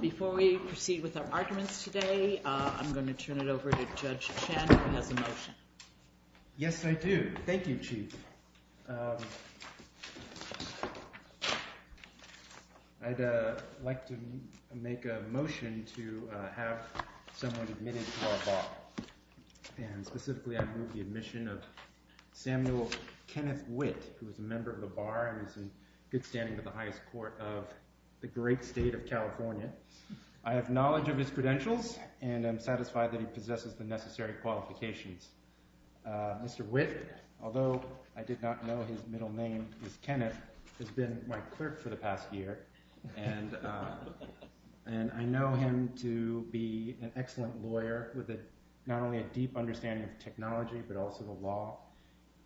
Before we proceed with our arguments today, I'm going to turn it over to Judge Chen who has a motion. Yes, I do. Thank you, Chief. I'd like to make a motion to have someone admitted to our Bar. And specifically, I move the admission of Samuel Kenneth Witt, who is a member of the Bar and is in good standing with the highest court of the great state of California. I have knowledge of his credentials, and I'm satisfied that he possesses the necessary qualifications. Mr. Witt, although I did not know his middle name is Kenneth, has been my clerk for the past year. And I know him to be an excellent lawyer with not only a deep understanding of technology, but also the law.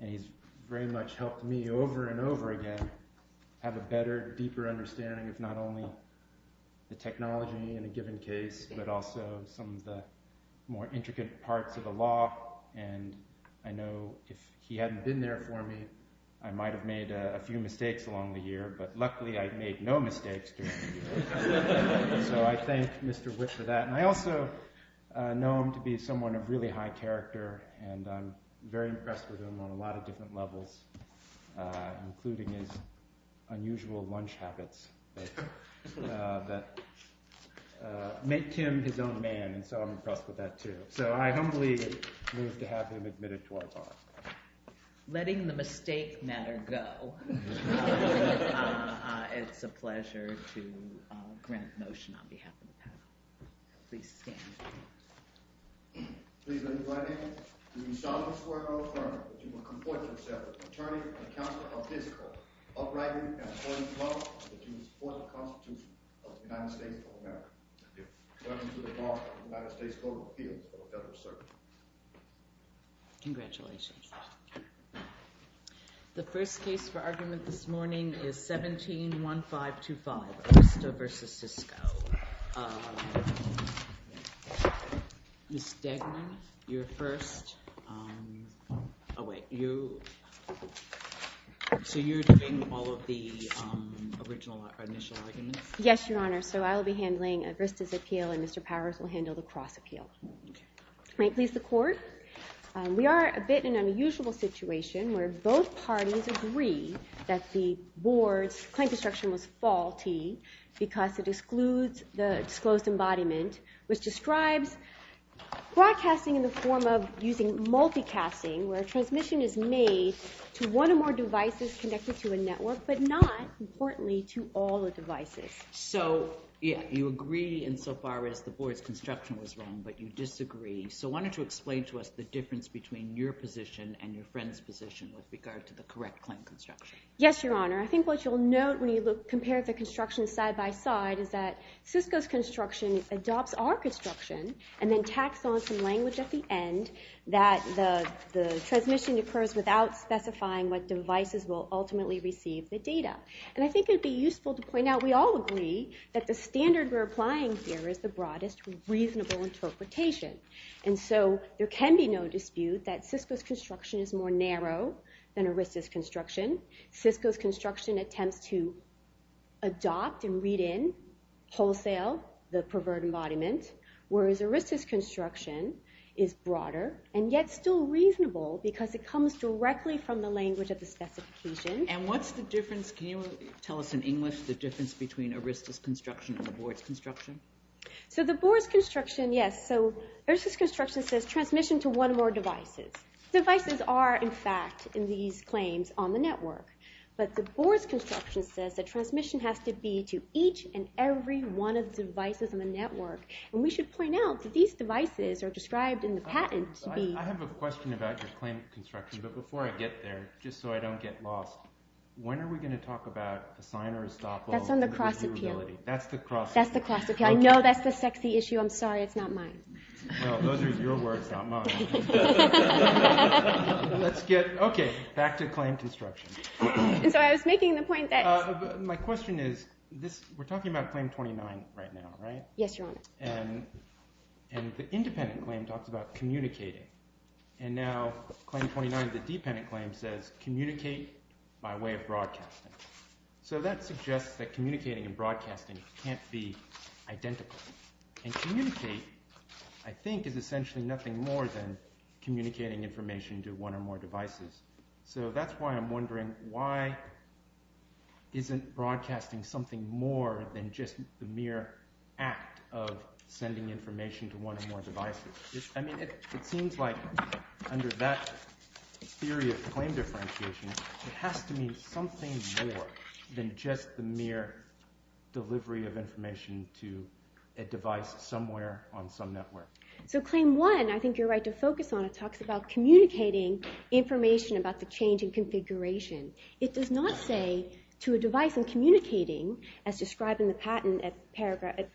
And he's very much helped me over and over again have a better, deeper understanding of not only the technology in a given case, but also some of the more intricate parts of the law. And I know if he hadn't been there for me, I might have made a few mistakes along the year. But luckily, I've made no mistakes during the year. So I thank Mr. Witt for that. And I also know him to be someone of really high character. And I'm very impressed with him on a lot of different levels, including his unusual lunch habits that make him his own man. And so I'm impressed with that, too. So I humbly move to have him admitted to our Bar. Letting the mistake matter go. It's a pleasure to grant motion on behalf of the panel. Please stand. Please let me by name. Do we solemnly swear and affirm that you will comport yourself with the attorney and counselor of this court, upright and abiding by the law, and that you will support the Constitution of the United States of America? I do. Welcome to the Bar of the United States Court of Appeals for Federal Service. Congratulations. The first case for argument this morning is 17-1525, Agrista v. Sisko. Ms. Degman, you're first. Oh, wait. So you're doing all of the original initial arguments? Yes, Your Honor. So I'll be handling Agrista's appeal, and Mr. Powers will handle the cross appeal. May it please the Court. We are a bit in an unusual situation where both parties agree that the board's claim construction was faulty because it excludes the disclosed embodiment, which describes broadcasting in the form of using multicasting, where a transmission is made to one or more devices connected to a network, but not, importantly, to all the devices. So you agree insofar as the board's construction was wrong, but you disagree. So why don't you explain to us the difference between your position and your friend's position with regard to the correct claim construction? Yes, Your Honor. I think what you'll note when you compare the construction side by side is that Sisko's construction adopts our construction and then tacks on some language at the end that the transmission occurs without specifying what devices will ultimately receive the data. And I think it would be useful to point out we all agree that the standard we're applying here is the broadest reasonable interpretation. And so there can be no dispute that Sisko's construction is more narrow than Agrista's construction. Sisko's construction attempts to adopt and read in wholesale the perverted embodiment, whereas Agrista's construction is broader and yet still reasonable because it comes directly from the language of the specification. And what's the difference, can you tell us in English, the difference between Agrista's construction and the board's construction? So the board's construction, yes, so Agrista's construction says transmission to one or more devices. Devices are, in fact, in these claims on the network. But the board's construction says that transmission has to be to each and every one of the devices on the network. And we should point out that these devices are described in the patent to be… I have a question about your claim construction. But before I get there, just so I don't get lost, when are we going to talk about the sign or estoppel? That's on the cross-appeal. That's the cross-appeal. That's the cross-appeal. I know that's the sexy issue. I'm sorry, it's not mine. Well, those are your words, not mine. Let's get, okay, back to claim construction. So I was making the point that… My question is, we're talking about claim 29 right now, right? Yes, Your Honor. And the independent claim talks about communicating. And now claim 29, the dependent claim, says communicate by way of broadcasting. So that suggests that communicating and broadcasting can't be identical. And communicate, I think, is essentially nothing more than communicating information to one or more devices. So that's why I'm wondering, why isn't broadcasting something more than just the mere act of sending information to one or more devices? I mean, it seems like under that theory of claim differentiation, it has to mean something more than just the mere delivery of information to a device somewhere on some network. So claim 1, I think you're right to focus on, it talks about communicating information about the change in configuration. It does not say to a device in communicating, as described in the patent at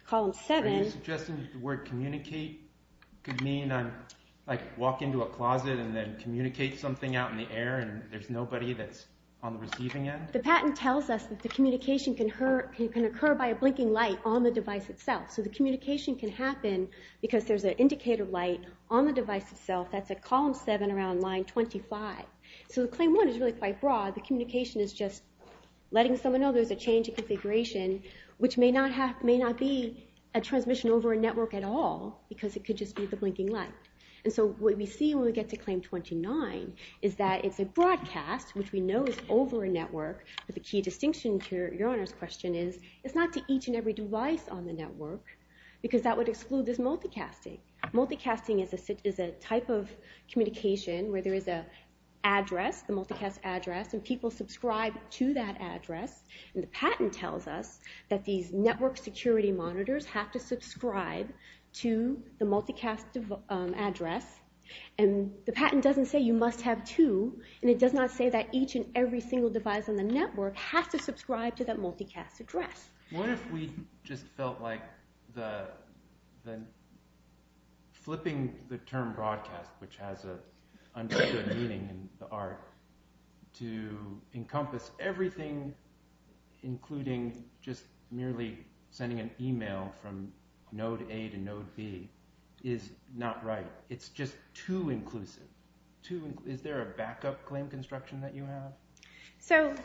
column 7… Are you suggesting that the word communicate could mean, like, walk into a closet and then communicate something out in the air and there's nobody that's on the receiving end? The patent tells us that the communication can occur by a blinking light on the device itself. So the communication can happen because there's an indicator light on the device itself that's at column 7 around line 25. So claim 1 is really quite broad. The communication is just letting someone know there's a change in configuration, which may not be a transmission over a network at all because it could just be the blinking light. And so what we see when we get to claim 29 is that it's a broadcast, which we know is over a network. But the key distinction to Your Honor's question is it's not to each and every device on the network because that would exclude this multicasting. Multicasting is a type of communication where there is an address, a multicast address, and people subscribe to that address. And the patent tells us that these network security monitors have to subscribe to the multicast address. And the patent doesn't say you must have two, and it does not say that each and every single device on the network has to subscribe to that multicast address. What if we just felt like flipping the term broadcast, which has an understood meaning in the art, to encompass everything including just merely sending an email from node A to node B is not right. It's just too inclusive. Is there a backup claim construction that you have? So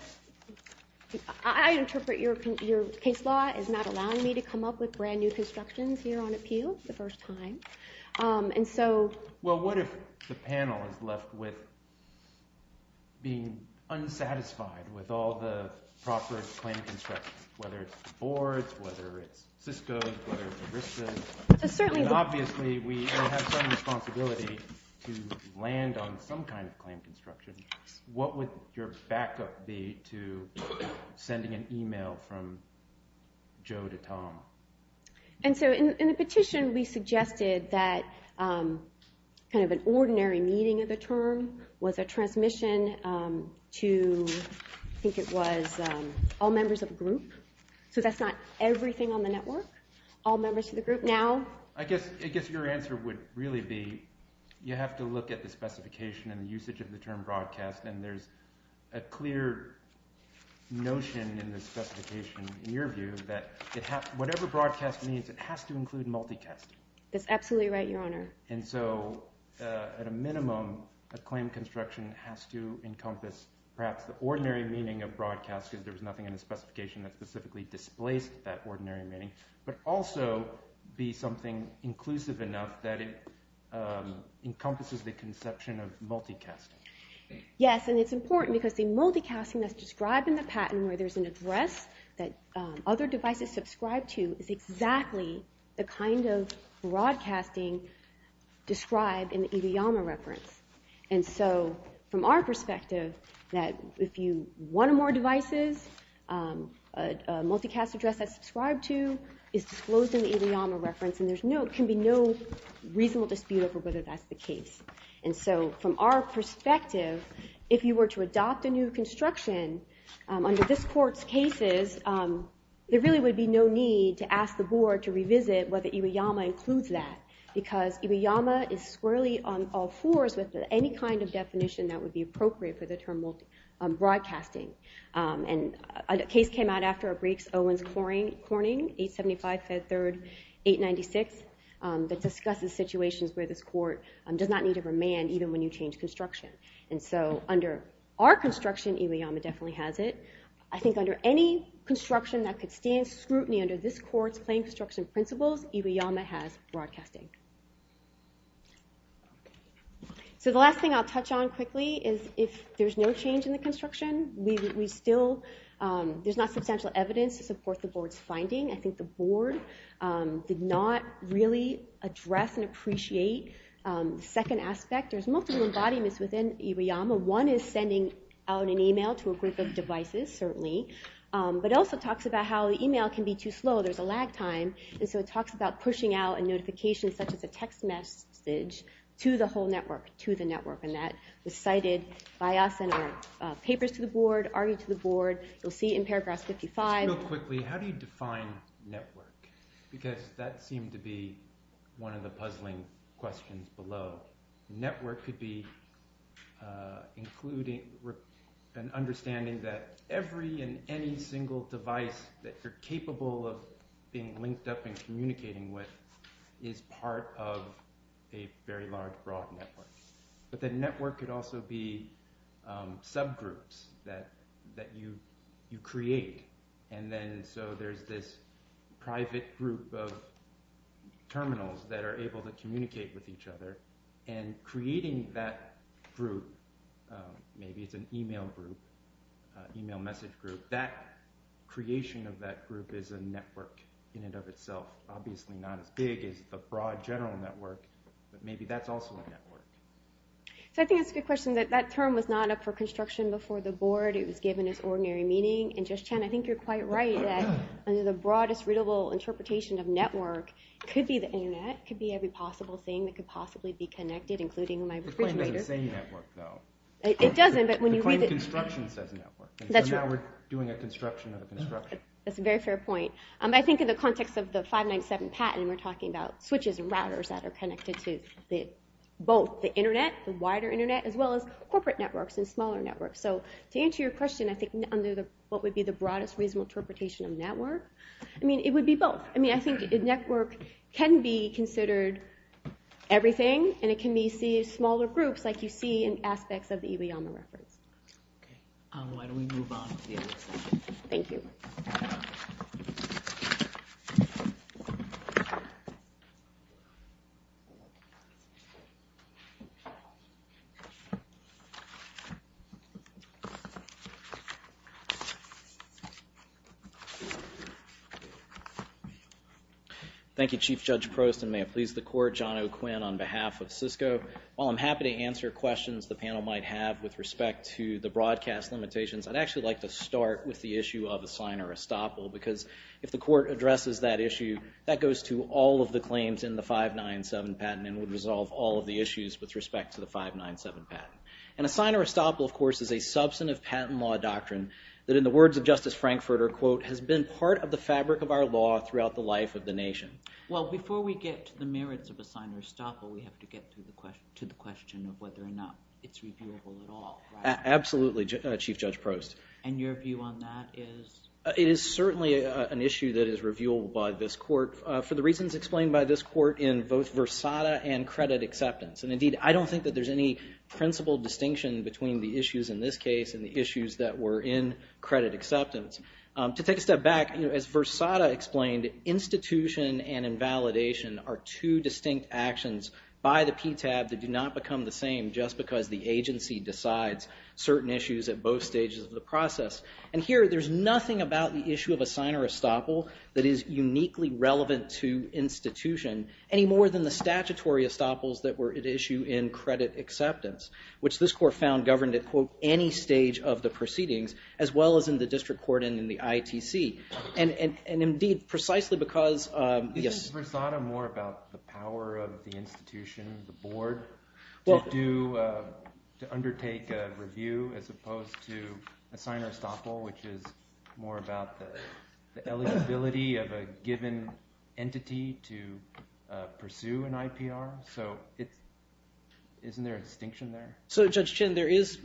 I interpret your case law as not allowing me to come up with brand new constructions here on appeal the first time. Well, what if the panel is left with being unsatisfied with all the proper claim construction, whether it's the boards, whether it's Cisco, whether it's ERISA? And obviously we have some responsibility to land on some kind of claim construction. What would your backup be to sending an email from Joe to Tom? And so in the petition we suggested that kind of an ordinary meeting of the term was a transmission to, I think it was, all members of a group. So that's not everything on the network? All members of the group now? I guess your answer would really be you have to look at the specification and the usage of the term broadcast, and there's a clear notion in the specification, in your view, that whatever broadcast means it has to include multicast. That's absolutely right, Your Honor. And so at a minimum, a claim construction has to encompass perhaps the ordinary meaning of broadcast, because there was nothing in the specification that specifically displaced that ordinary meaning, but also be something inclusive enough that it encompasses the conception of multicasting. Yes, and it's important because the multicasting that's described in the patent, where there's an address that other devices subscribe to, is exactly the kind of broadcasting described in the Idiyama reference. And so from our perspective, that if you want more devices, a multicast address that's subscribed to is disclosed in the Idiyama reference, and there can be no reasonable dispute over whether that's the case. And so from our perspective, if you were to adopt a new construction under this court's cases, there really would be no need to ask the board to revisit whether Idiyama includes that, because Idiyama is squarely on all fours with any kind of definition that would be appropriate for the term multicasting. And a case came out after a brief Owens-Corning, 875 Fed 3rd, 896, that discusses situations where this court does not need to remand even when you change construction. And so under our construction, Idiyama definitely has it. I think under any construction that could stand scrutiny under this court's claim construction principles, Idiyama has broadcasting. So the last thing I'll touch on quickly is if there's no change in the construction, there's not substantial evidence to support the board's finding. I think the board did not really address and appreciate the second aspect. There's multiple embodiments within Idiyama. One is sending out an email to a group of devices, certainly, but it also talks about how the email can be too slow. There's a lag time. And so it talks about pushing out a notification such as a text message to the whole network, to the network. And that was cited by us in our papers to the board, argued to the board. You'll see in paragraph 55. Just real quickly, how do you define network? Because that seemed to be one of the puzzling questions below. Network could be an understanding that every and any single device that you're capable of being linked up and communicating with is part of a very large, broad network. But the network could also be subgroups that you create. And then so there's this private group of terminals that are able to communicate with each other. And creating that group, maybe it's an email group, email message group, that creation of that group is a network in and of itself. Obviously not as big as a broad general network, but maybe that's also a network. So I think that's a good question. That term was not up for construction before the board. It was given its ordinary meaning. And Judge Chan, I think you're quite right that under the broadest readable interpretation of network, it could be the Internet. It could be every possible thing that could possibly be connected, including my refrigerator. The claim doesn't say network, though. It doesn't, but when you read it. The claim construction says network. That's right. So now we're doing a construction of a construction. That's a very fair point. I think in the context of the 597 patent, we're talking about switches and routers that are connected to both the Internet, the wider Internet, as well as corporate networks and smaller networks. So to answer your question, I think under what would be the broadest reasonable interpretation of network, I mean, it would be both. I mean, I think a network can be considered everything, and it can be seen as smaller groups like you see in aspects of the Ileana reference. Okay. Why don't we move on to the other side? Thank you. Thank you, Chief Judge Prost, and may it please the Court. John O'Quinn on behalf of Cisco. While I'm happy to answer questions the panel might have with respect to the broadcast limitations, I'd actually like to start with the issue of a sign or estoppel because if the Court addresses that issue, that goes to all of the claims in the 597 patent and would resolve all of the issues with respect to the 597 patent. And a sign or estoppel, of course, is a substantive patent law doctrine that in the words of Justice Frankfurter, quote, has been part of the fabric of our law throughout the life of the nation. Well, before we get to the merits of a sign or estoppel, we have to get to the question of whether or not it's reviewable at all, right? Absolutely, Chief Judge Prost. And your view on that is? It is certainly an issue that is reviewable by this Court for the reasons explained by this Court in both Versada and credit acceptance. And indeed, I don't think that there's any principled distinction between the issues in this case and the issues that were in credit acceptance. To take a step back, as Versada explained, institution and invalidation are two distinct actions by the PTAB that do not become the same just because the agency decides certain issues at both stages of the process. And here, there's nothing about the issue of a sign or estoppel that is uniquely relevant to institution any more than the statutory estoppels that were at issue in credit acceptance, which this Court found governed at, quote, any stage of the proceedings as well as in the district court and in the ITC. And indeed, precisely because... Isn't Versada more about the power of the institution, the board, to undertake a review as opposed to a sign or estoppel, which is more about the eligibility of a given entity to pursue an IPR? So isn't there a distinction there? So Judge Chin, there is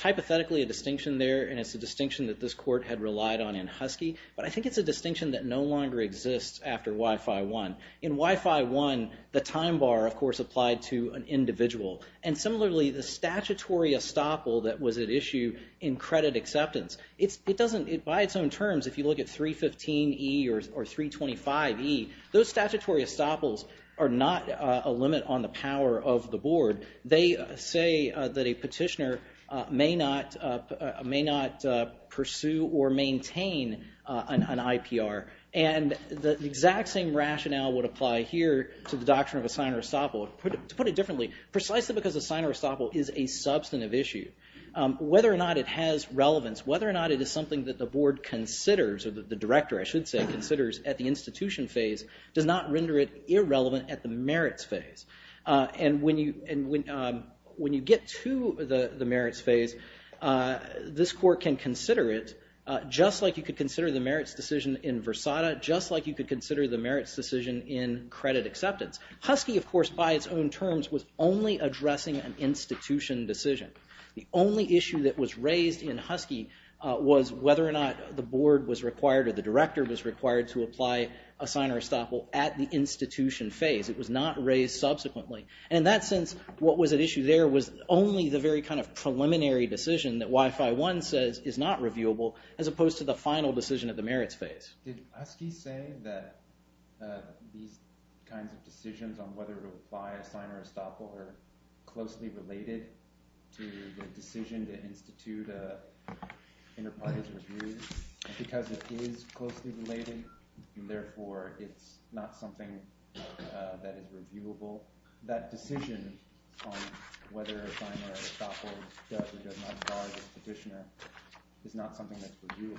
hypothetically a distinction there, and it's a distinction that this Court had relied on in Husky, but I think it's a distinction that no longer exists after Wi-Fi 1. In Wi-Fi 1, the time bar, of course, applied to an individual. And similarly, the statutory estoppel that was at issue in credit acceptance, it doesn't... By its own terms, if you look at 315E or 325E, those statutory estoppels are not a limit on the power of the board. They say that a petitioner may not pursue or maintain an IPR. And the exact same rationale would apply here to the doctrine of a sign or estoppel. To put it differently, precisely because a sign or estoppel is a substantive issue, whether or not it has relevance, whether or not it is something that the board considers, or the director, I should say, considers at the institution phase, does not render it irrelevant at the merits phase. And when you get to the merits phase, this Court can consider it just like you could consider the merits decision in Versada, just like you could consider the merits decision in credit acceptance. Husky, of course, by its own terms, was only addressing an institution decision. The only issue that was raised in Husky was whether or not the board was required or the director was required to apply a sign or estoppel at the institution phase. It was not raised subsequently. And in that sense, what was at issue there was only the very kind of preliminary decision that Wi-Fi 1 says is not reviewable, as opposed to the final decision at the merits phase. Did Husky say that these kinds of decisions on whether to apply a sign or estoppel are closely related to the decision to institute an enterprise review? Because it is closely related, therefore, it's not something that is reviewable. That decision on whether a sign or estoppel does or does not guard a petitioner is not something that's reviewable.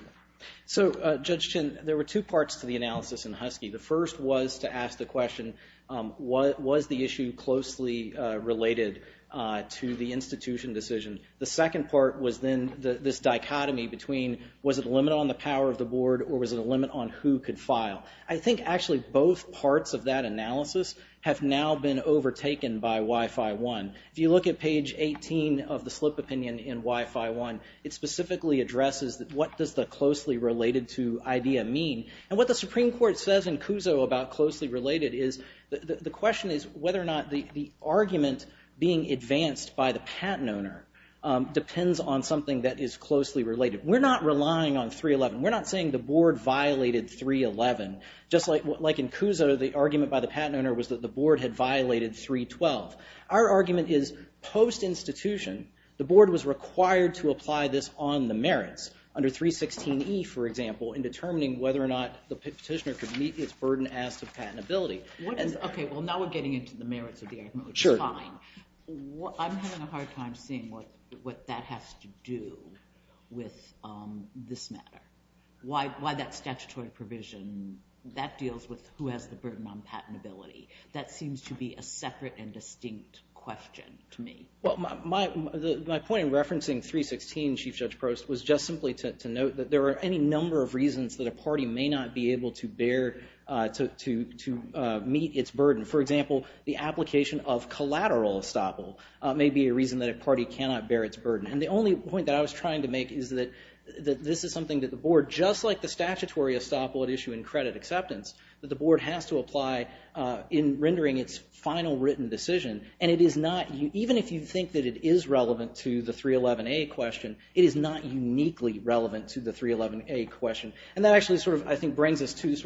So, Judge Chin, there were two parts to the analysis in Husky. The first was to ask the question, was the issue closely related to the institution decision? The second part was then this dichotomy between was it a limit on the power of the board or was it a limit on who could file? I think actually both parts of that analysis have now been overtaken by Wi-Fi 1. If you look at page 18 of the slip opinion in Wi-Fi 1, it specifically addresses what does the closely related to idea mean? And what the Supreme Court says in Cuso about closely related is the question is whether or not the argument being advanced by the patent owner depends on something that is closely related. We're not relying on 311. We're not saying the board violated 311. Just like in Cuso, the argument by the patent owner was that the board had violated 312. Our argument is post-institution, the board was required to apply this on the merits, under 316E, for example, in determining whether or not the petitioner could meet its burden as to patentability. Now we're getting into the merits of the argument, which is fine. I'm having a hard time seeing what that has to do with this matter. Why that statutory provision, that deals with who has the burden on patentability. That seems to be a separate and distinct question to me. My point in referencing 316, Chief Judge Prost, was just simply to note that there are any number of reasons that a party may not be able to bear, to meet its burden. For example, the application of collateral estoppel may be a reason that a party cannot bear its burden. The only point that I was trying to make is that this is something that the board, just like the statutory estoppel at issue in credit acceptance, that the board has to apply in rendering its final written decision. Even if you think that it is relevant to the 311A question, it is not uniquely relevant to the 311A question. That actually brings us to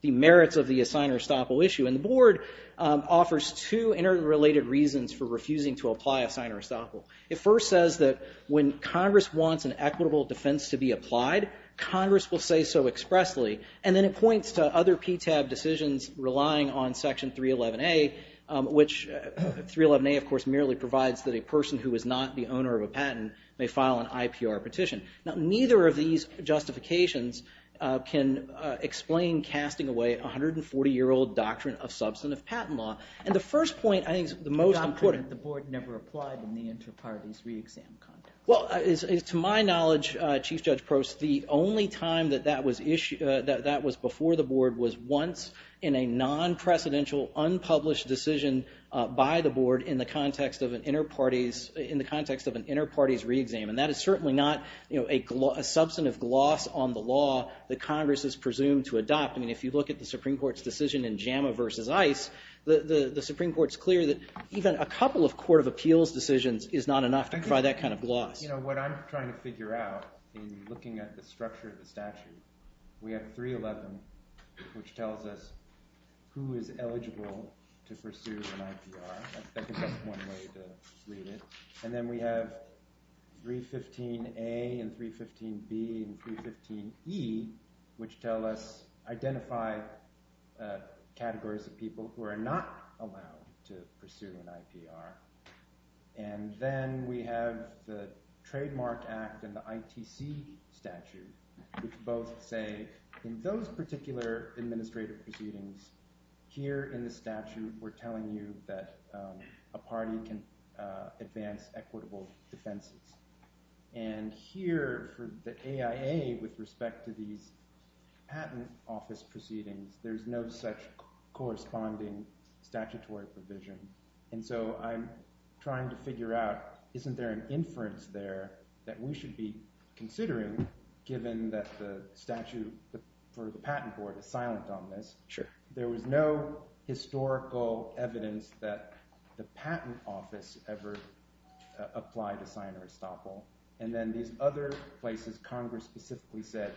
the merits of the assigner estoppel issue. The board offers two interrelated reasons for refusing to apply assigner estoppel. It first says that when Congress wants an equitable defense to be applied, Congress will say so expressly. Then it points to other PTAB decisions relying on Section 311A, which 311A merely provides that a person who is not the owner of a patent may file an IPR petition. Now, neither of these justifications can explain casting away a 140-year-old doctrine of substantive patent law. And the first point I think is the most important. The doctrine that the board never applied in the inter-parties re-exam context. Well, to my knowledge, Chief Judge Prost, the only time that that was before the board was once in a non-precedential unpublished decision by the board And that is certainly not a substantive gloss on the law that Congress is presumed to adopt. I mean, if you look at the Supreme Court's decision in JAMA versus ICE, the Supreme Court's clear that even a couple of court of appeals decisions is not enough to provide that kind of gloss. You know, what I'm trying to figure out in looking at the structure of the statute, we have 311, which tells us who is eligible to pursue an IPR. That gives us one way to read it. And then we have 315A and 315B and 315E, which tell us identify categories of people who are not allowed to pursue an IPR. And then we have the Trademark Act and the ITC statute, which both say in those particular administrative proceedings, here in the statute, we're telling you that a party can advance equitable defenses. And here for the AIA, with respect to these patent office proceedings, there's no such corresponding statutory provision. And so I'm trying to figure out, isn't there an inference there that we should be considering, given that the statute for the patent board is silent on this? There was no historical evidence that the patent office ever applied a sign or estoppel. And then these other places, Congress specifically said,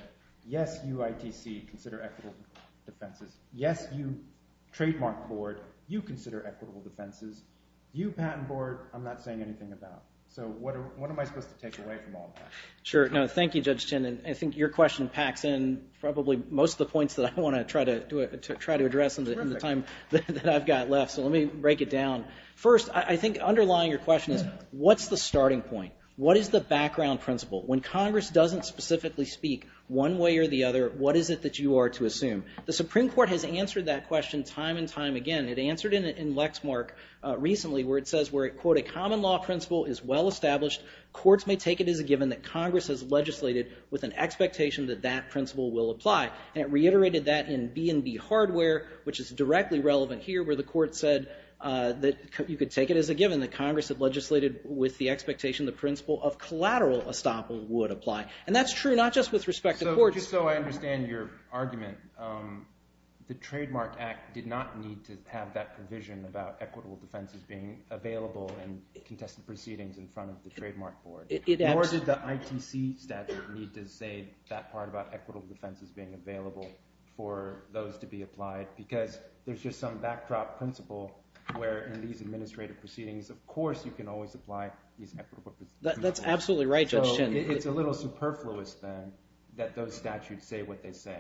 yes, you ITC, consider equitable defenses. Yes, you trademark board, you consider equitable defenses. You patent board, I'm not saying anything about. So what am I supposed to take away from all that? Sure. No, thank you, Judge Chin. And I think your question packs in probably most of the points that I want to try to address in the time that I've got left. So let me break it down. First, I think underlying your question is, what's the starting point? What is the background principle? When Congress doesn't specifically speak one way or the other, what is it that you are to assume? The Supreme Court has answered that question time and time again. The common law principle is well-established. Courts may take it as a given that Congress has legislated with an expectation that that principle will apply. And it reiterated that in B&B hardware, which is directly relevant here, where the court said that you could take it as a given, that Congress had legislated with the expectation the principle of collateral estoppel would apply. And that's true not just with respect to courts. Just so I understand your argument, the Trademark Act did not need to have that provision about equitable defenses being available in contested proceedings in front of the trademark board. Nor did the ITC statute need to say that part about equitable defenses being available for those to be applied because there's just some backdrop principle where in these administrative proceedings, of course, you can always apply these equitable defenses. That's absolutely right, Judge Chin. It's a little superfluous, then, that those statutes say what they say.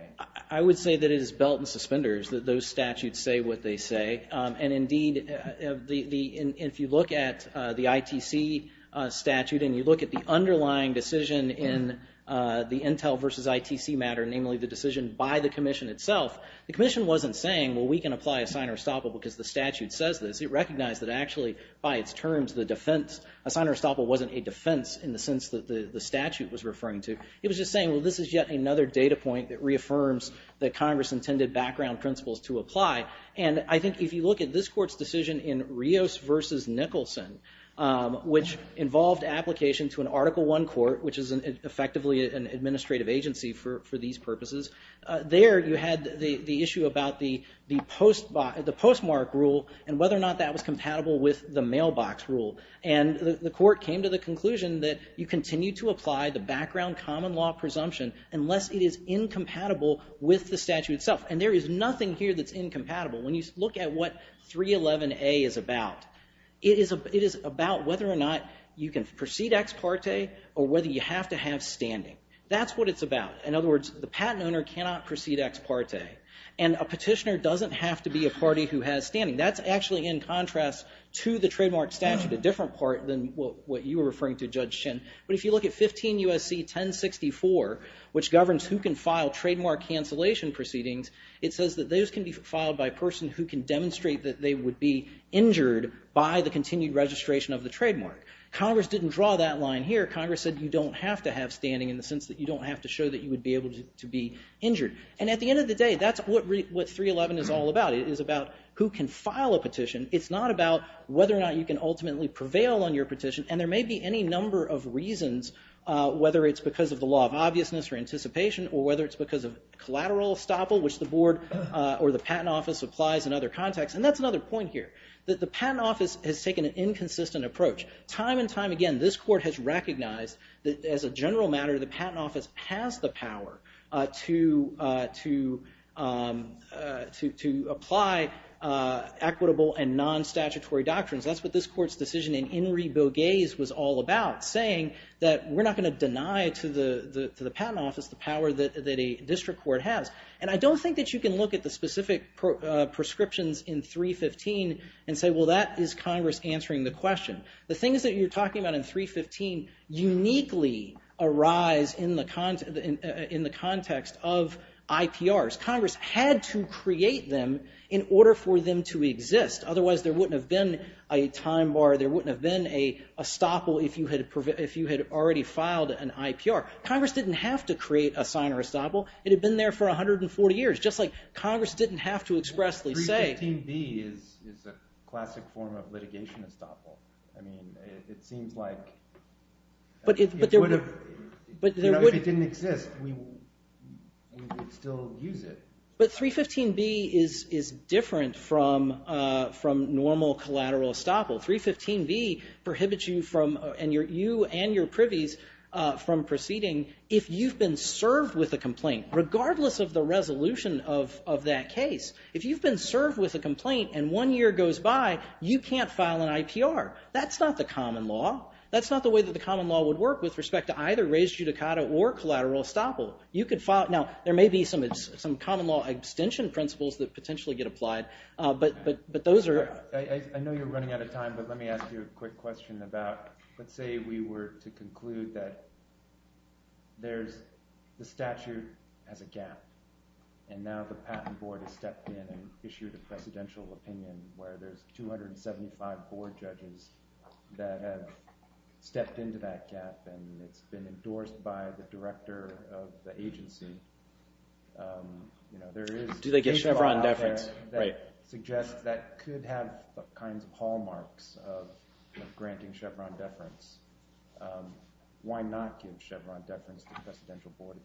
I would say that it is belt and suspenders that those statutes say what they say. And indeed, if you look at the ITC statute and you look at the underlying decision in the Intel versus ITC matter, namely the decision by the commission itself, the commission wasn't saying, well, we can apply a sign or estoppel because the statute says this. It recognized that actually by its terms, the defense, a sign or estoppel wasn't a defense in the sense that the statute was referring to. It was just saying, well, this is yet another data point that reaffirms that Congress intended background principles to apply. And I think if you look at this court's decision in Rios versus Nicholson, which involved application to an Article I court, which is effectively an administrative agency for these purposes, there you had the issue about the postmark rule and whether or not that was compatible with the mailbox rule. And the court came to the conclusion that you continue to apply the background common law presumption unless it is incompatible with the statute itself. And there is nothing here that's incompatible. When you look at what 311A is about, it is about whether or not you can proceed ex parte or whether you have to have standing. That's what it's about. And a petitioner doesn't have to be a party who has standing. That's actually in contrast to the trademark statute, a different part than what you were referring to, Judge Chin. But if you look at 15 U.S.C. 1064, which governs who can file trademark cancellation proceedings, it says that those can be filed by a person who can demonstrate that they would be injured by the continued registration of the trademark. Congress didn't draw that line here. Congress said you don't have to have standing in the sense that you don't have to show that you would be able to be injured. And at the end of the day, that's what 311 is all about. It is about who can file a petition. It's not about whether or not you can ultimately prevail on your petition. And there may be any number of reasons, whether it's because of the law of obviousness or anticipation or whether it's because of collateral estoppel, which the board or the patent office applies in other contexts. And that's another point here, that the patent office has taken an inconsistent approach. Time and time again, this court has recognized that, as a general matter, the patent office has the power to apply equitable and non-statutory doctrines. That's what this court's decision in In re Bogues was all about, saying that we're not going to deny to the patent office the power that a district court has. And I don't think that you can look at the specific prescriptions in 315 and say, well, that is Congress answering the question. The things that you're talking about in 315 uniquely arise in the context of IPRs. Congress had to create them in order for them to exist. Otherwise, there wouldn't have been a time bar. There wouldn't have been an estoppel if you had already filed an IPR. Congress didn't have to create a sign or estoppel. It had been there for 140 years, just like Congress didn't have to expressly say. 315B is a classic form of litigation estoppel. I mean, it seems like if it didn't exist, we would still use it. But 315B is different from normal collateral estoppel. 315B prohibits you and your privies from proceeding if you've been served with a complaint, regardless of the resolution of that case. If you've been served with a complaint and one year goes by, you can't file an IPR. That's not the common law. That's not the way that the common law would work with respect to either raised judicata or collateral estoppel. Now, there may be some common law abstention principles that potentially get applied, but those are— I know you're running out of time, but let me ask you a quick question about— There's—the statute has a gap, and now the Patent Board has stepped in and issued a presidential opinion where there's 275 board judges that have stepped into that gap, and it's been endorsed by the director of the agency. Do they get Chevron deference? That suggests that could have kinds of hallmarks of granting Chevron deference. Why not give Chevron deference to the presidential board?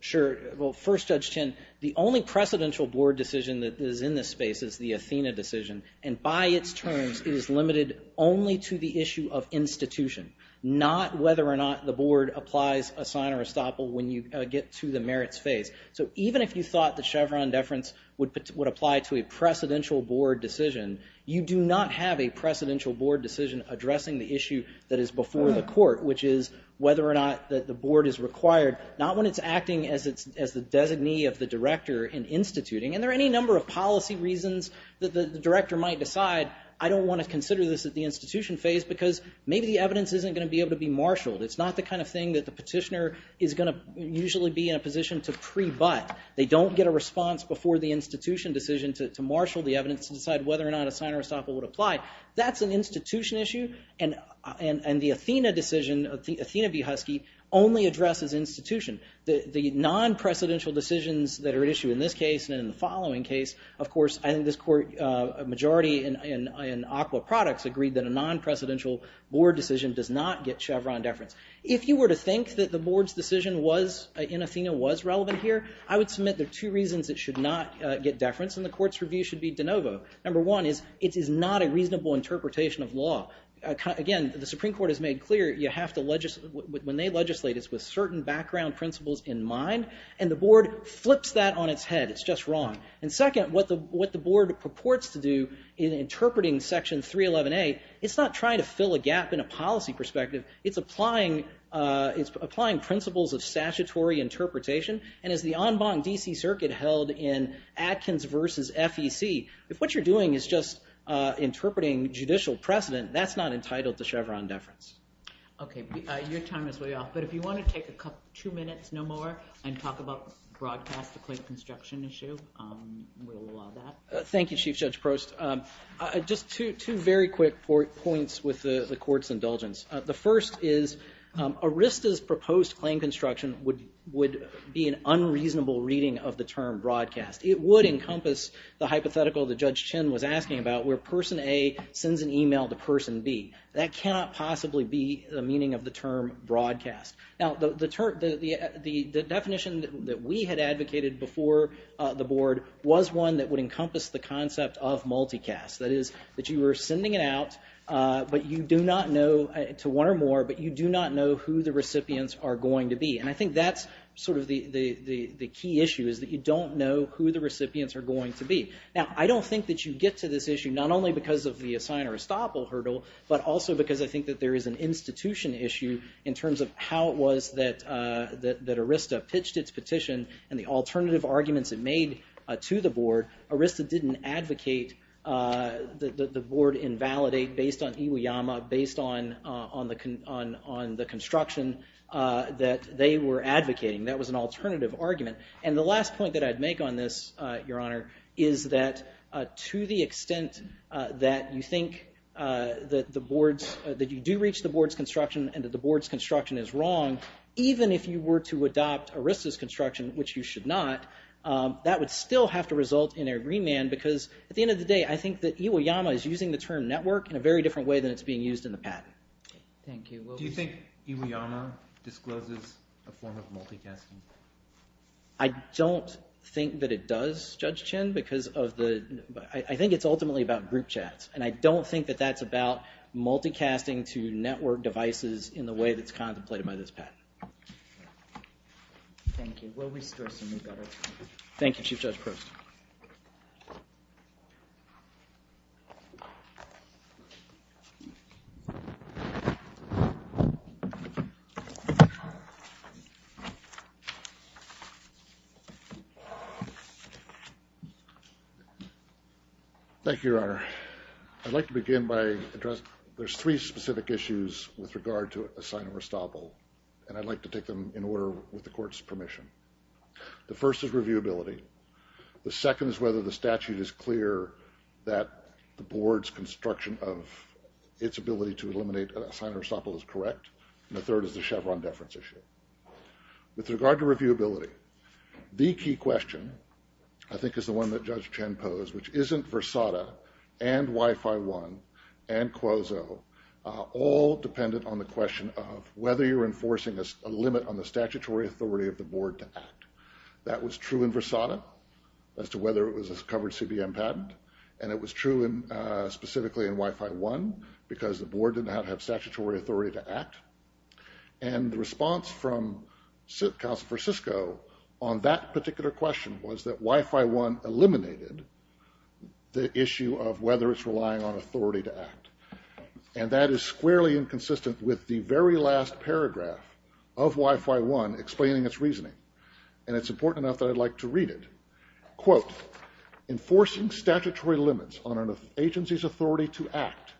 Sure. Well, first, Judge Tinn, the only presidential board decision that is in this space is the Athena decision, and by its terms, it is limited only to the issue of institution, not whether or not the board applies a sign or estoppel when you get to the merits phase. So even if you thought that Chevron deference would apply to a presidential board decision, you do not have a presidential board decision addressing the issue that is before the court, which is whether or not the board is required, not when it's acting as the designee of the director in instituting. And there are any number of policy reasons that the director might decide, I don't want to consider this at the institution phase because maybe the evidence isn't going to be able to be marshaled. It's not the kind of thing that the petitioner is going to usually be in a position to prebut. They don't get a response before the institution decision to marshal the evidence and decide whether or not a sign or estoppel would apply. That's an institution issue, and the Athena decision, Athena v. Husky, only addresses institution. The non-presidential decisions that are at issue in this case and in the following case, of course, I think this court, a majority in Aqua Products, agreed that a non-presidential board decision does not get Chevron deference. If you were to think that the board's decision was, in Athena, was relevant here, I would submit there are two reasons it should not get deference, and the court's review should be de novo. Number one is it is not a reasonable interpretation of law. Again, the Supreme Court has made clear you have to, when they legislate, it's with certain background principles in mind, and the board flips that on its head. It's just wrong. And second, what the board purports to do in interpreting Section 311A, it's not trying to fill a gap in a policy perspective. It's applying principles of statutory interpretation, and as the en banc D.C. Circuit held in Atkins v. FEC, if what you're doing is just interpreting judicial precedent, that's not entitled to Chevron deference. Okay, your time is way off, but if you want to take two minutes, no more, and talk about broadcast to claim construction issue, we'll allow that. Thank you, Chief Judge Prost. Just two very quick points with the court's indulgence. The first is Arista's proposed claim construction would be an unreasonable reading of the term broadcast. It would encompass the hypothetical that Judge Chin was asking about, where person A sends an email to person B. That cannot possibly be the meaning of the term broadcast. Now, the definition that we had advocated before the board was one that would encompass the concept of multicast. That is, that you were sending it out, but you do not know, to one or more, but you do not know who the recipients are going to be. And I think that's sort of the key issue, is that you don't know who the recipients are going to be. Now, I don't think that you get to this issue not only because of the assign or estoppel hurdle, but also because I think that there is an institution issue in terms of how it was that Arista pitched its petition and the alternative arguments it made to the board. Arista didn't advocate that the board invalidate based on Iwayama, based on the construction that they were advocating. That was an alternative argument. And the last point that I'd make on this, Your Honor, is that to the extent that you think that you do reach the board's construction and that the board's construction is wrong, even if you were to adopt Arista's construction, which you should not, that would still have to result in a remand, because at the end of the day, I think that Iwayama is using the term network in a very different way than it's being used in the patent. Thank you. Do you think Iwayama discloses a form of multicasting? I don't think that it does, Judge Chinn. I think it's ultimately about group chats, and I don't think that that's about multicasting to network devices in the way that's contemplated by this patent. Thank you. We'll restore some new data. Thank you, Chief Judge Proust. Thank you, Your Honor. I'd like to begin by addressing there's three specific issues with regard to Assign-a-Restoppel, and I'd like to take them in order with the Court's permission. The first is reviewability. The second is whether the statute is clear that the board's construction of its ability to eliminate Assign-a-Restoppel is correct, and the third is the Chevron deference issue. With regard to reviewability, the key question I think is the one that Judge Chinn posed, which isn't Versada and Wi-Fi One and Quozo, all dependent on the question of whether you're enforcing a limit on the statutory authority of the board to act. That was true in Versada as to whether it was a covered CBM patent, and it was true specifically in Wi-Fi One because the board did not have statutory authority to act. And the response from Counsel for Cisco on that particular question was that Wi-Fi One eliminated the issue of whether it's relying on authority to act, and that is squarely inconsistent with the very last paragraph of Wi-Fi One explaining its reasoning, and it's important enough that I'd like to read it. Quote, Enforcing statutory limits on an agency's authority to act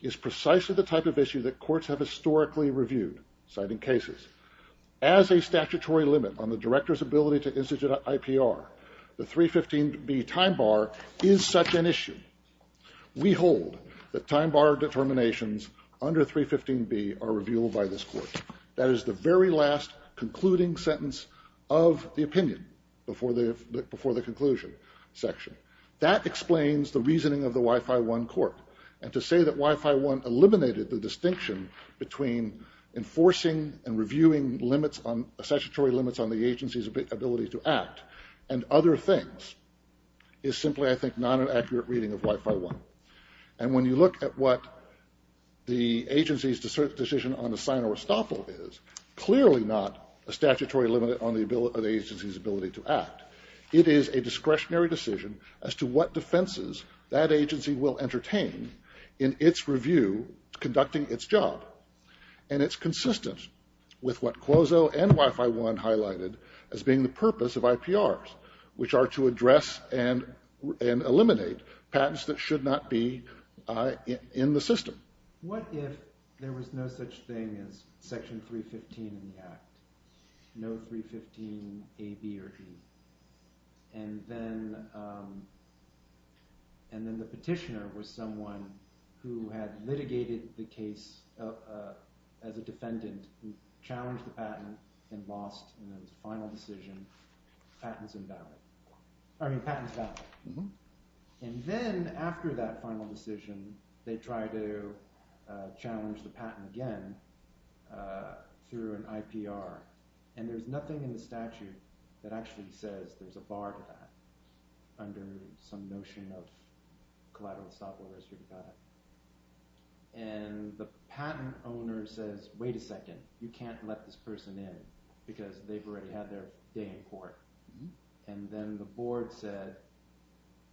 is precisely the type of issue that courts have historically reviewed, citing cases. As a statutory limit on the director's ability to institute IPR, the 315B time bar is such an issue. We hold that time bar determinations under 315B are revealed by this court. That is the very last concluding sentence of the opinion before the conclusion section. That explains the reasoning of the Wi-Fi One court, and to say that Wi-Fi One eliminated the distinction between enforcing and reviewing statutory limits on the agency's ability to act and other things is simply, I think, not an accurate reading of Wi-Fi One. And when you look at what the agency's decision on the Sino-Rostovl is, clearly not a statutory limit on the agency's ability to act. It is a discretionary decision as to what defenses that agency will entertain in its review conducting its job, and it's consistent with what Clozo and Wi-Fi One highlighted as being the purpose of IPRs, which are to address and eliminate patents that should not be in the system. What if there was no such thing as Section 315 in the Act? No 315A, B, or E. And then the petitioner was someone who had litigated the case as a defendant who challenged the patent and lost, and it was a final decision. The patent's invalid. I mean, the patent's valid. And then after that final decision, they try to challenge the patent again through an IPR, and there's nothing in the statute that actually says there's a bar to that And the patent owner says, wait a second, you can't let this person in because they've already had their day in court. And then the board said,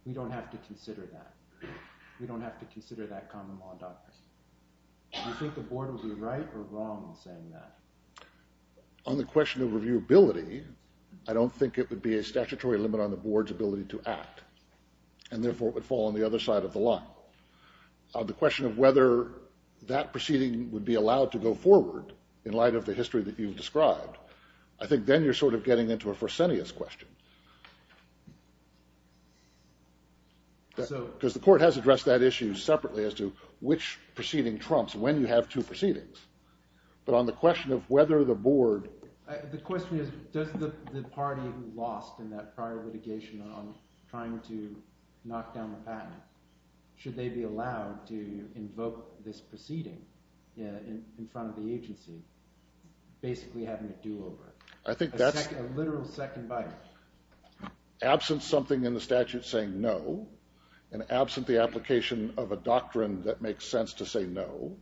we don't have to consider that. We don't have to consider that common law doctrine. Do you think the board would be right or wrong in saying that? On the question of reviewability, I don't think it would be a statutory limit on the board's ability to act, and therefore it would fall on the other side of the line. On the question of whether that proceeding would be allowed to go forward in light of the history that you've described, I think then you're sort of getting into a Fresenius question. Because the court has addressed that issue separately as to which proceeding trumps when you have two proceedings. But on the question of whether the board The question is, does the party who lost in that prior litigation on trying to knock down the patent, should they be allowed to invoke this proceeding in front of the agency, basically having a do-over? I think that's A literal second bite. Absent something in the statute saying no, and absent the application of a doctrine that makes sense to say no,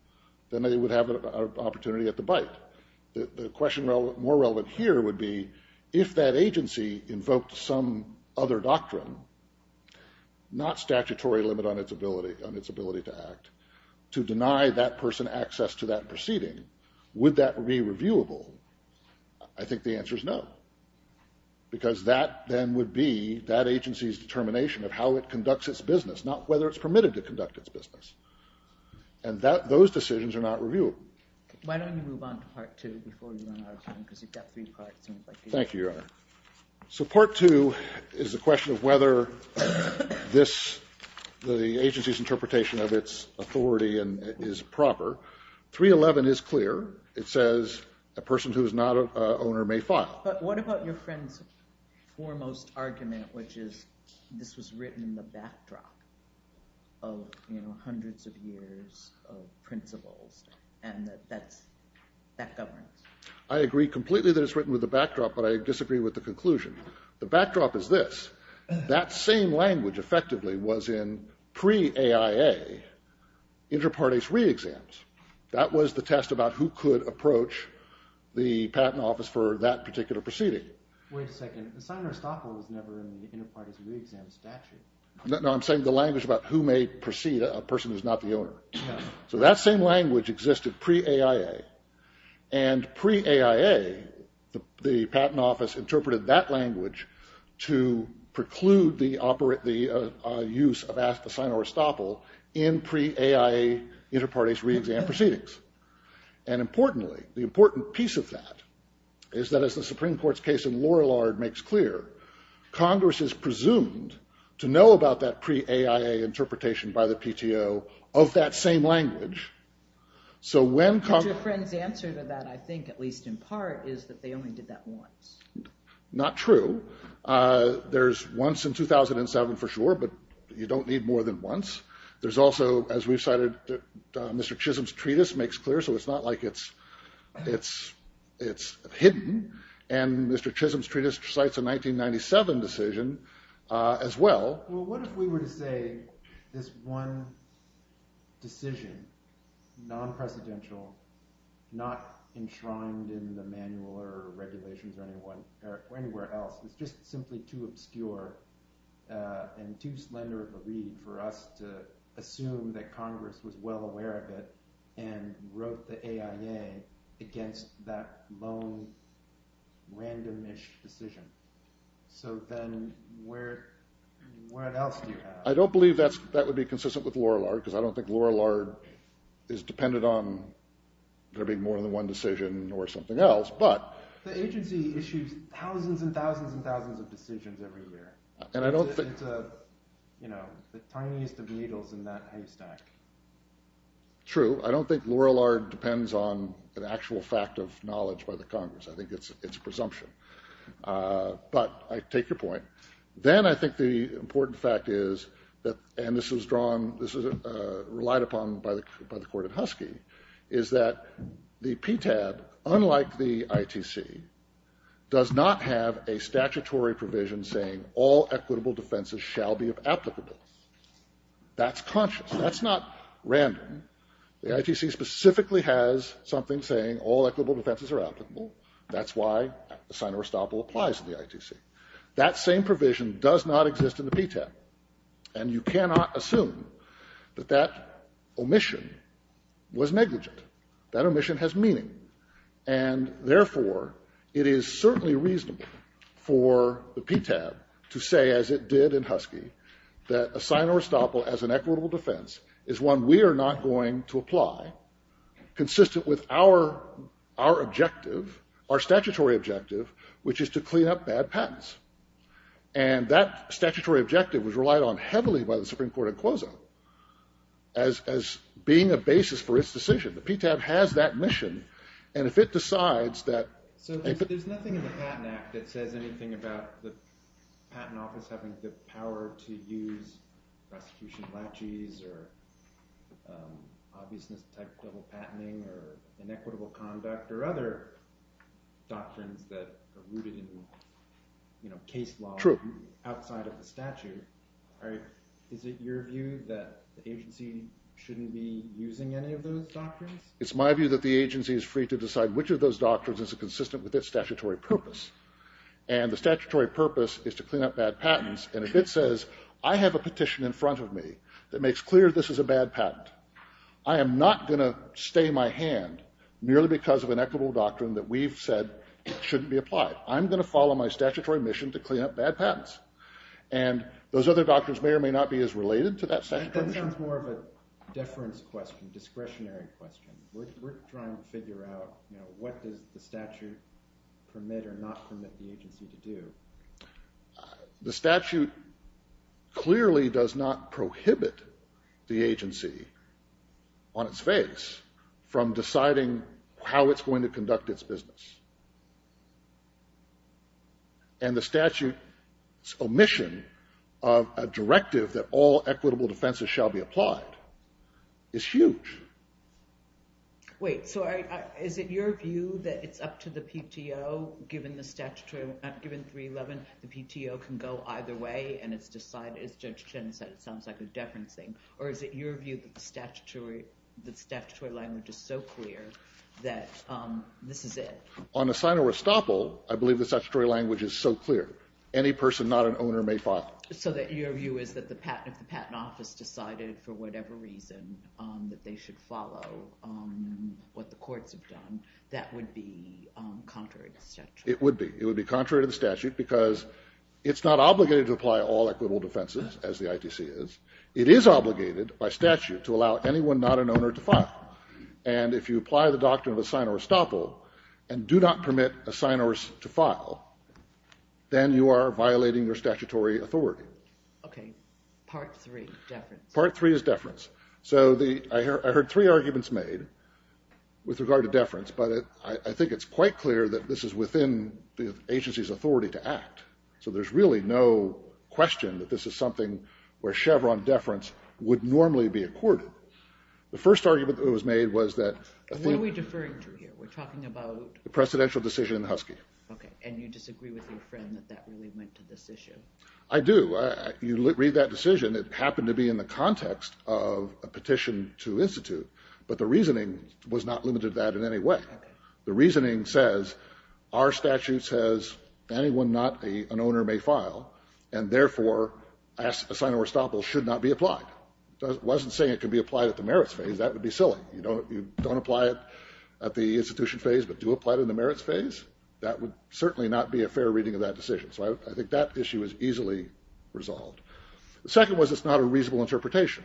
then they would have an opportunity at the bite. The question more relevant here would be, if that agency invoked some other doctrine, not statutory limit on its ability to act, to deny that person access to that proceeding, would that be reviewable? I think the answer is no. Because that then would be that agency's determination of how it conducts its business, not whether it's permitted to conduct its business. And those decisions are not reviewable. Why don't you move on to part two before you run out of time? Because you've got three parts. Thank you, Your Honor. So part two is a question of whether this, the agency's interpretation of its authority is proper. 311 is clear. It says a person who is not an owner may file. But what about your friend's foremost argument, which is this was written in the backdrop of hundreds of years of principles and that governs? I agree completely that it's written with the backdrop, but I disagree with the conclusion. The backdrop is this. That same language effectively was in pre-AIA, inter partes re-exams. That was the test about who could approach the patent office for that particular proceeding. Wait a second. The sign in Aristotle was never in the inter partes re-exam statute. No, I'm saying the language about who may proceed a person who's not the owner. So that same language existed pre-AIA and pre-AIA, the patent office interpreted that language to preclude the use of the sign of Aristotle in pre-AIA inter partes re-exam proceedings. And importantly, the important piece of that is that as the Supreme Court's case in Lorillard makes clear, Congress is presumed to know about that pre-AIA interpretation by the PTO of that same language. But your friend's answer to that, I think, at least in part, is that they only did that once. Not true. There's once in 2007 for sure, but you don't need more than once. There's also, as we've cited, Mr. Chisholm's treatise makes clear, so it's not like it's hidden. And Mr. Chisholm's treatise cites a 1997 decision as well. Well, what if we were to say this one decision, non-presidential, not enshrined in the manual or regulations or anywhere else, is just simply too obscure and too slender of a read for us to assume that Congress was well aware of it and wrote the AIA against that lone, random-ish decision? So then where else do you have... I don't believe that would be consistent with Lorillard, because I don't think Lorillard is dependent on there being more than one decision or something else, but... The agency issues thousands and thousands and thousands of decisions every year. And I don't think... It's the tiniest of needles in that haystack. True. I don't think Lorillard depends on an actual fact of knowledge by the Congress. I think it's presumption. But I take your point. Then I think the important fact is, and this was relied upon by the Court of Husky, is that the PTAB, unlike the ITC, does not have a statutory provision saying all equitable defenses shall be applicable. That's conscious. That's not random. The ITC specifically has something saying all equitable defenses are applicable. That's why a sign or estoppel applies in the ITC. That same provision does not exist in the PTAB. And you cannot assume that that omission was negligent. That omission has meaning. And therefore, it is certainly reasonable for the PTAB to say, as it did in Husky, that a sign or estoppel as an equitable defense is one we are not going to apply, consistent with our objective, our statutory objective, which is to clean up bad patents. And that statutory objective was relied on heavily by the Supreme Court in Closo as being a basis for its decision. The PTAB has that mission. And if it decides that... So there's nothing in the Patent Act that says anything about the Patent Office having the power to use prosecution legis or obviousness type double patenting or inequitable conduct or other doctrines that are rooted in case law outside of the statute. Is it your view that the agency shouldn't be using any of those doctrines? It's my view that the agency is free to decide which of those doctrines is consistent with its statutory purpose. And the statutory purpose is to clean up bad patents. And if it says, I have a petition in front of me that makes clear this is a bad patent, I am not going to stay my hand merely because of an equitable doctrine that we've said shouldn't be applied. I'm going to follow my statutory mission to clean up bad patents. And those other doctrines may or may not be as related to that statute. That sounds more of a deference question, discretionary question. We're trying to figure out what does the statute permit or not permit the agency to do. The statute clearly does not prohibit the agency on its face from deciding how it's going to conduct its business. And the statute's omission of a directive that all equitable defenses shall be applied is huge. Wait, so is it your view that it's up to the PTO, given the statutory, given 311, the PTO can go either way and it's decided, as Judge Chen said, it sounds like a deference thing. Or is it your view that the statutory language is so clear that this is it? On a sign of restoppel, I believe the statutory language is so clear. Any person, not an owner, may file. So your view is that if the patent office decided for whatever reason that they should follow what the courts have done, that would be contrary to the statute? It would be. It would be contrary to the statute because it's not obligated to apply all equitable defenses, as the ITC is. It is obligated by statute to allow anyone, not an owner, to file. And if you apply the doctrine of a sign of restoppel and do not permit a signer to file, then you are violating your statutory authority. Okay. Part three, deference. Part three is deference. So I heard three arguments made with regard to deference, but I think it's quite clear that this is within the agency's authority to act. So there's really no question that this is something where Chevron deference would normally be accorded. The first argument that was made was that... What are we deferring to here? We're talking about... The presidential decision in Husky. Okay. And you disagree with your friend that that really went to this issue? I do. You read that decision. It happened to be in the context of a petition to institute, but the reasoning was not limited to that in any way. Okay. The reasoning says our statute says anyone, not an owner, may file, and therefore a sign of restoppel should not be applied. It wasn't saying it could be applied at the merits phase. That would be silly. You don't apply it at the institution phase, but do apply it in the merits phase? That would certainly not be a fair reading of that decision. So I think that issue is easily resolved. The second was it's not a reasonable interpretation.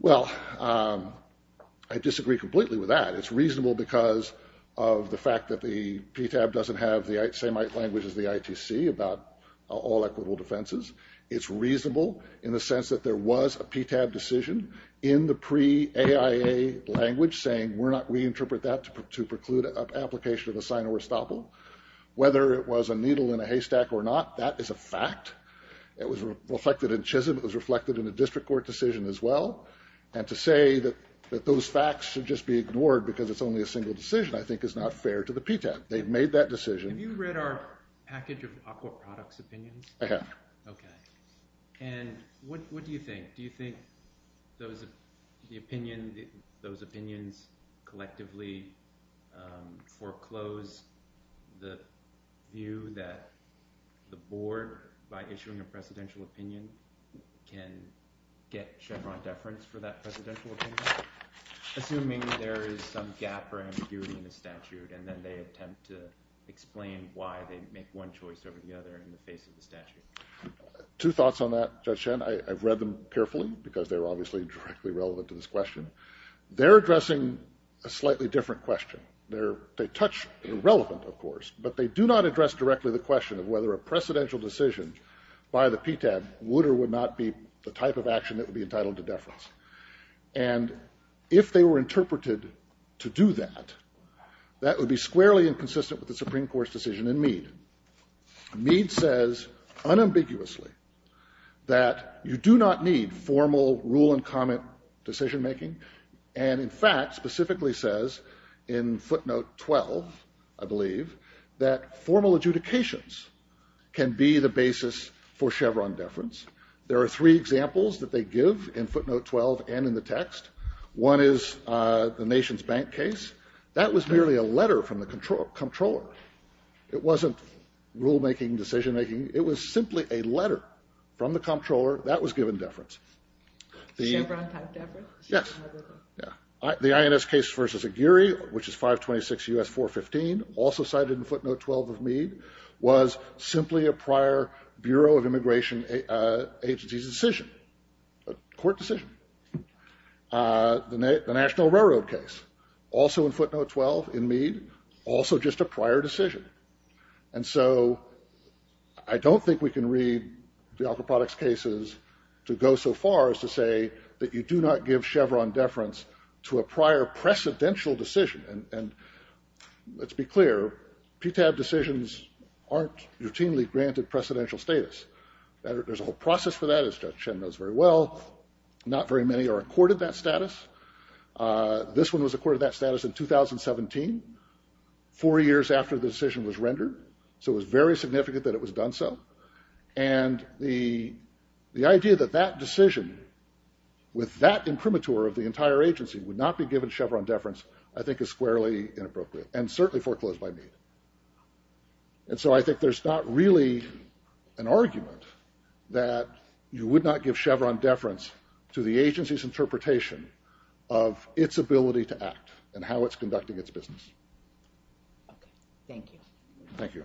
Well, I disagree completely with that. It's reasonable because of the fact that the PTAB doesn't have the same language as the ITC about all equitable defenses. It's reasonable in the sense that there was a PTAB decision in the pre-AIA language saying we interpret that to preclude an application of a sign of restoppel. Whether it was a needle in a haystack or not, that is a fact. It was reflected in Chisholm. It was reflected in a district court decision as well. And to say that those facts should just be ignored because it's only a single decision I think is not fair to the PTAB. They've made that decision. Have you read our package of aqua products opinions? I have. Okay. And what do you think? Do you think those opinions collectively foreclose the view that the board, by issuing a presidential opinion, can get Chevron deference for that presidential opinion? Assuming there is some gap or ambiguity in the statute and then they attempt to explain why they make one choice over the other in the face of the statute. Two thoughts on that, Judge Shen. I've read them carefully because they're obviously directly relevant to this question. They're addressing a slightly different question. They touch the relevant, of course, but they do not address directly the question of whether a presidential decision by the PTAB would or would not be the type of action that would be entitled to deference. And if they were interpreted to do that, that would be squarely inconsistent with the Supreme Court's decision in Mead. Mead says unambiguously that you do not need formal rule and comment decision making and, in fact, specifically says in footnote 12, I believe, that formal adjudications can be the basis for Chevron deference. There are three examples that they give in footnote 12 and in the text. One is the nation's bank case. That was merely a letter from the controller. It wasn't rule making, decision making. It was simply a letter from the controller. That was given deference. Chevron type deference? Yes. The INS case versus Aguirre, which is 526 U.S. 415, also cited in footnote 12 of Mead, was simply a prior Bureau of Immigration Agencies decision, a court decision. The National Railroad case, also in footnote 12 in Mead, also just a prior decision. And so I don't think we can read the aquaproducts cases to go so far as to say that you do not give Chevron deference to a prior precedential decision. And let's be clear, PTAB decisions aren't routinely granted precedential status. There's a whole process for that, as Judge Chen knows very well. Not very many are accorded that status. This one was accorded that status in 2017, four years after the decision was rendered, so it was very significant that it was done so. And the idea that that decision, with that imprimatur of the entire agency, would not be given Chevron deference I think is squarely inappropriate, and certainly foreclosed by Mead. And so I think there's not really an argument that you would not give Chevron deference to the agency's interpretation of its ability to act and how it's conducting its business. Okay, thank you. Thank you.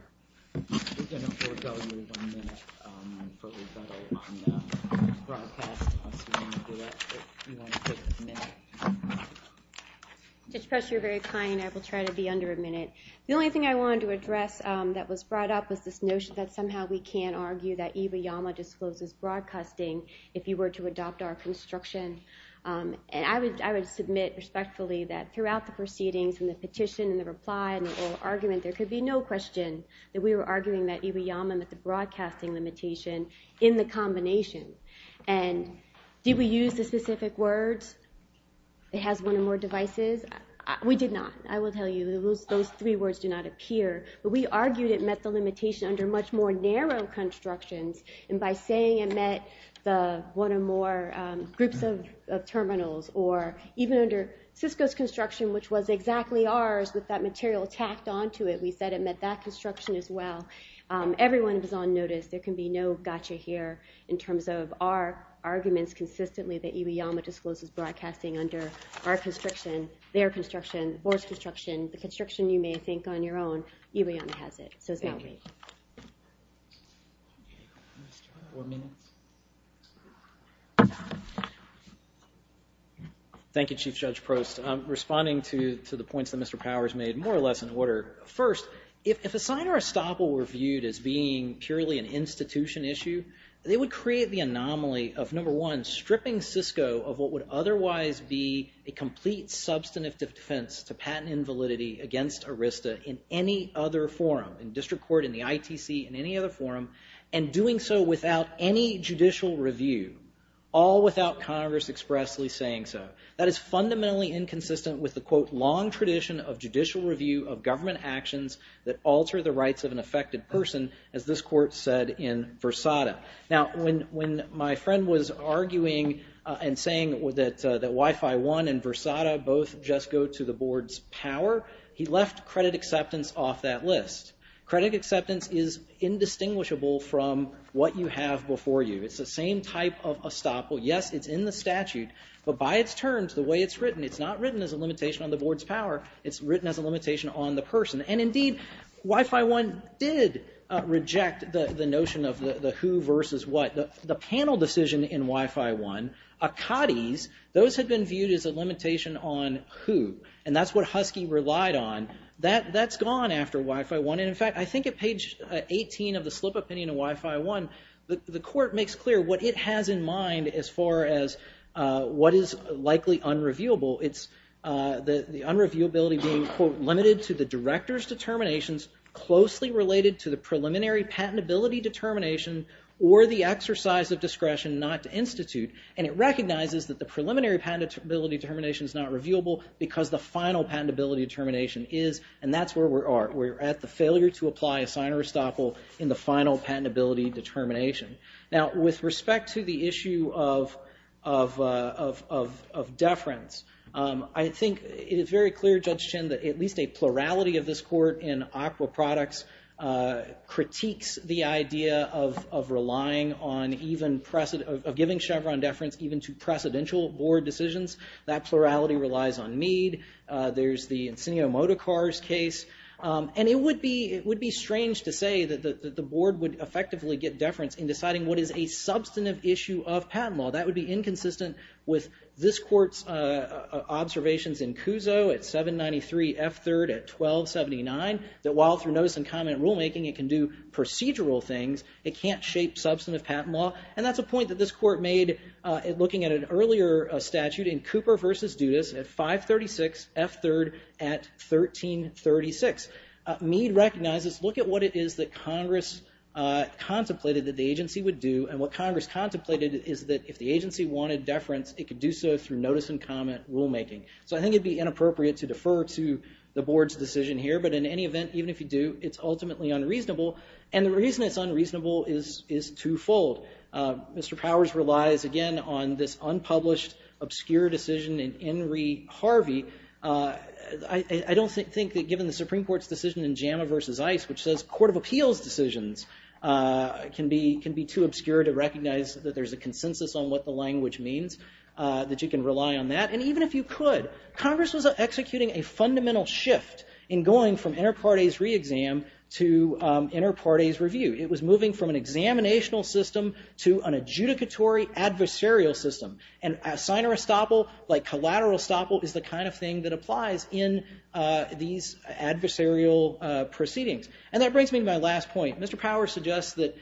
Judge Press, you're very kind. I will try to be under a minute. The only thing I wanted to address that was brought up was this notion that somehow we can't argue that Iwayama discloses broadcasting if you were to adopt our construction. And I would submit respectfully that throughout the proceedings and the petition and the reply and the oral argument, there could be no question that we were arguing that Iwayama met the broadcasting limitation in the combination. And did we use the specific words, it has one or more devices? We did not, I will tell you. Those three words do not appear. But we argued it met the limitation under much more narrow constructions. And by saying it met the one or more groups of terminals or even under Cisco's construction, which was exactly ours with that material tacked onto it, we said it met that construction as well. Everyone was on notice. There can be no gotcha here in terms of our arguments consistently that Iwayama discloses broadcasting under our construction, their construction, the board's construction, the construction you may think on your own, Iwayama has it. So it's not me. Thank you, Chief Judge Prost. Responding to the points that Mr. Powers made, more or less in order. First, if a sign or a stopper were viewed as being purely an institution issue, they would create the anomaly of, number one, stripping Cisco of what would otherwise be a complete substantive defense to patent invalidity against ARISTA in any other forum, in district court, in the ITC, in any other forum, and doing so without any judicial review, all without Congress expressly saying so. That is fundamentally inconsistent with the, quote, long tradition of judicial review of government actions that alter the rights of an affected person, as this court said in Versada. Now, when my friend was arguing and saying that Wi-Fi One and Versada both just go to the board's power, he left credit acceptance off that list. Credit acceptance is indistinguishable from what you have before you. It's the same type of a stopper. Yes, it's in the statute, but by its terms, the way it's written, it's not written as a limitation on the board's power. It's written as a limitation on the person. And indeed, Wi-Fi One did reject the notion of the who versus what. The panel decision in Wi-Fi One, Akati's, those had been viewed as a limitation on who, and that's what Husky relied on. That's gone after Wi-Fi One. And, in fact, I think at page 18 of the slip opinion of Wi-Fi One, the court makes clear what it has in mind as far as what is likely unreviewable. It's the unreviewability being, quote, limited to the director's determinations closely related to the preliminary patentability determination or the exercise of discretion not to institute, and it recognizes that the preliminary patentability determination is not reviewable because the final patentability determination is, and that's where we're at. We're at the failure to apply a sign of restockable in the final patentability determination. Now, with respect to the issue of deference, I think it is very clear, Judge Chin, that at least a plurality of this court in ACWA products critiques the idea of relying on even, of giving Chevron deference even to precedential board decisions. That plurality relies on Mead. There's the Insignia-Motocar's case, and it would be strange to say that the board would effectively get deference in deciding what is a substantive issue of patent law. That would be inconsistent with this court's observations in Cuso at 793 F3rd at 1279 that while through notice and comment rulemaking it can do procedural things, it can't shape substantive patent law, and that's a point that this court made looking at an earlier statute in Cooper versus Dudas at 536 F3rd at 1336. Mead recognizes, look at what it is that Congress contemplated that the agency would do, and what Congress contemplated is that if the agency wanted deference, it could do so through notice and comment rulemaking. So I think it would be inappropriate to defer to the board's decision here, but in any event, even if you do, it's ultimately unreasonable, and the reason it's unreasonable is twofold. Mr. Powers relies, again, on this unpublished, obscure decision in Henry Harvey. I don't think that given the Supreme Court's decision in JAMA versus ICE, which says court of appeals decisions can be too obscure to recognize that there's a consensus on what the language means, that you can rely on that. And even if you could, Congress was executing a fundamental shift in going from inter partes review. It was moving from an examinational system to an adjudicatory adversarial system. And signer estoppel, like collateral estoppel, is the kind of thing that applies in these adversarial proceedings. And that brings me to my last point. Mr. Powers suggests that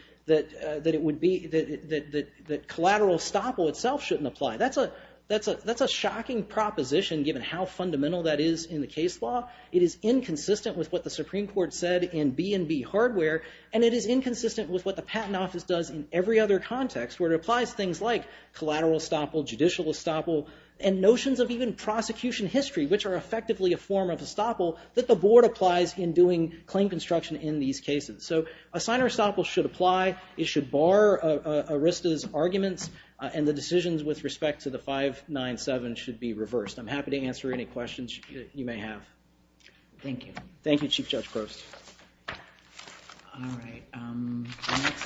collateral estoppel itself shouldn't apply. That's a shocking proposition given how fundamental that is in the case law. It is inconsistent with what the Supreme Court said in B&B hardware, and it is inconsistent with what the Patent Office does in every other context, where it applies things like collateral estoppel, judicial estoppel, and notions of even prosecution history, which are effectively a form of estoppel that the board applies in doing claim construction in these cases. So a signer estoppel should apply. It should bar Arista's arguments, and the decisions with respect to the 597 should be reversed. I'm happy to answer any questions you may have. Thank you. Thank you, Chief Judge Crost. All right.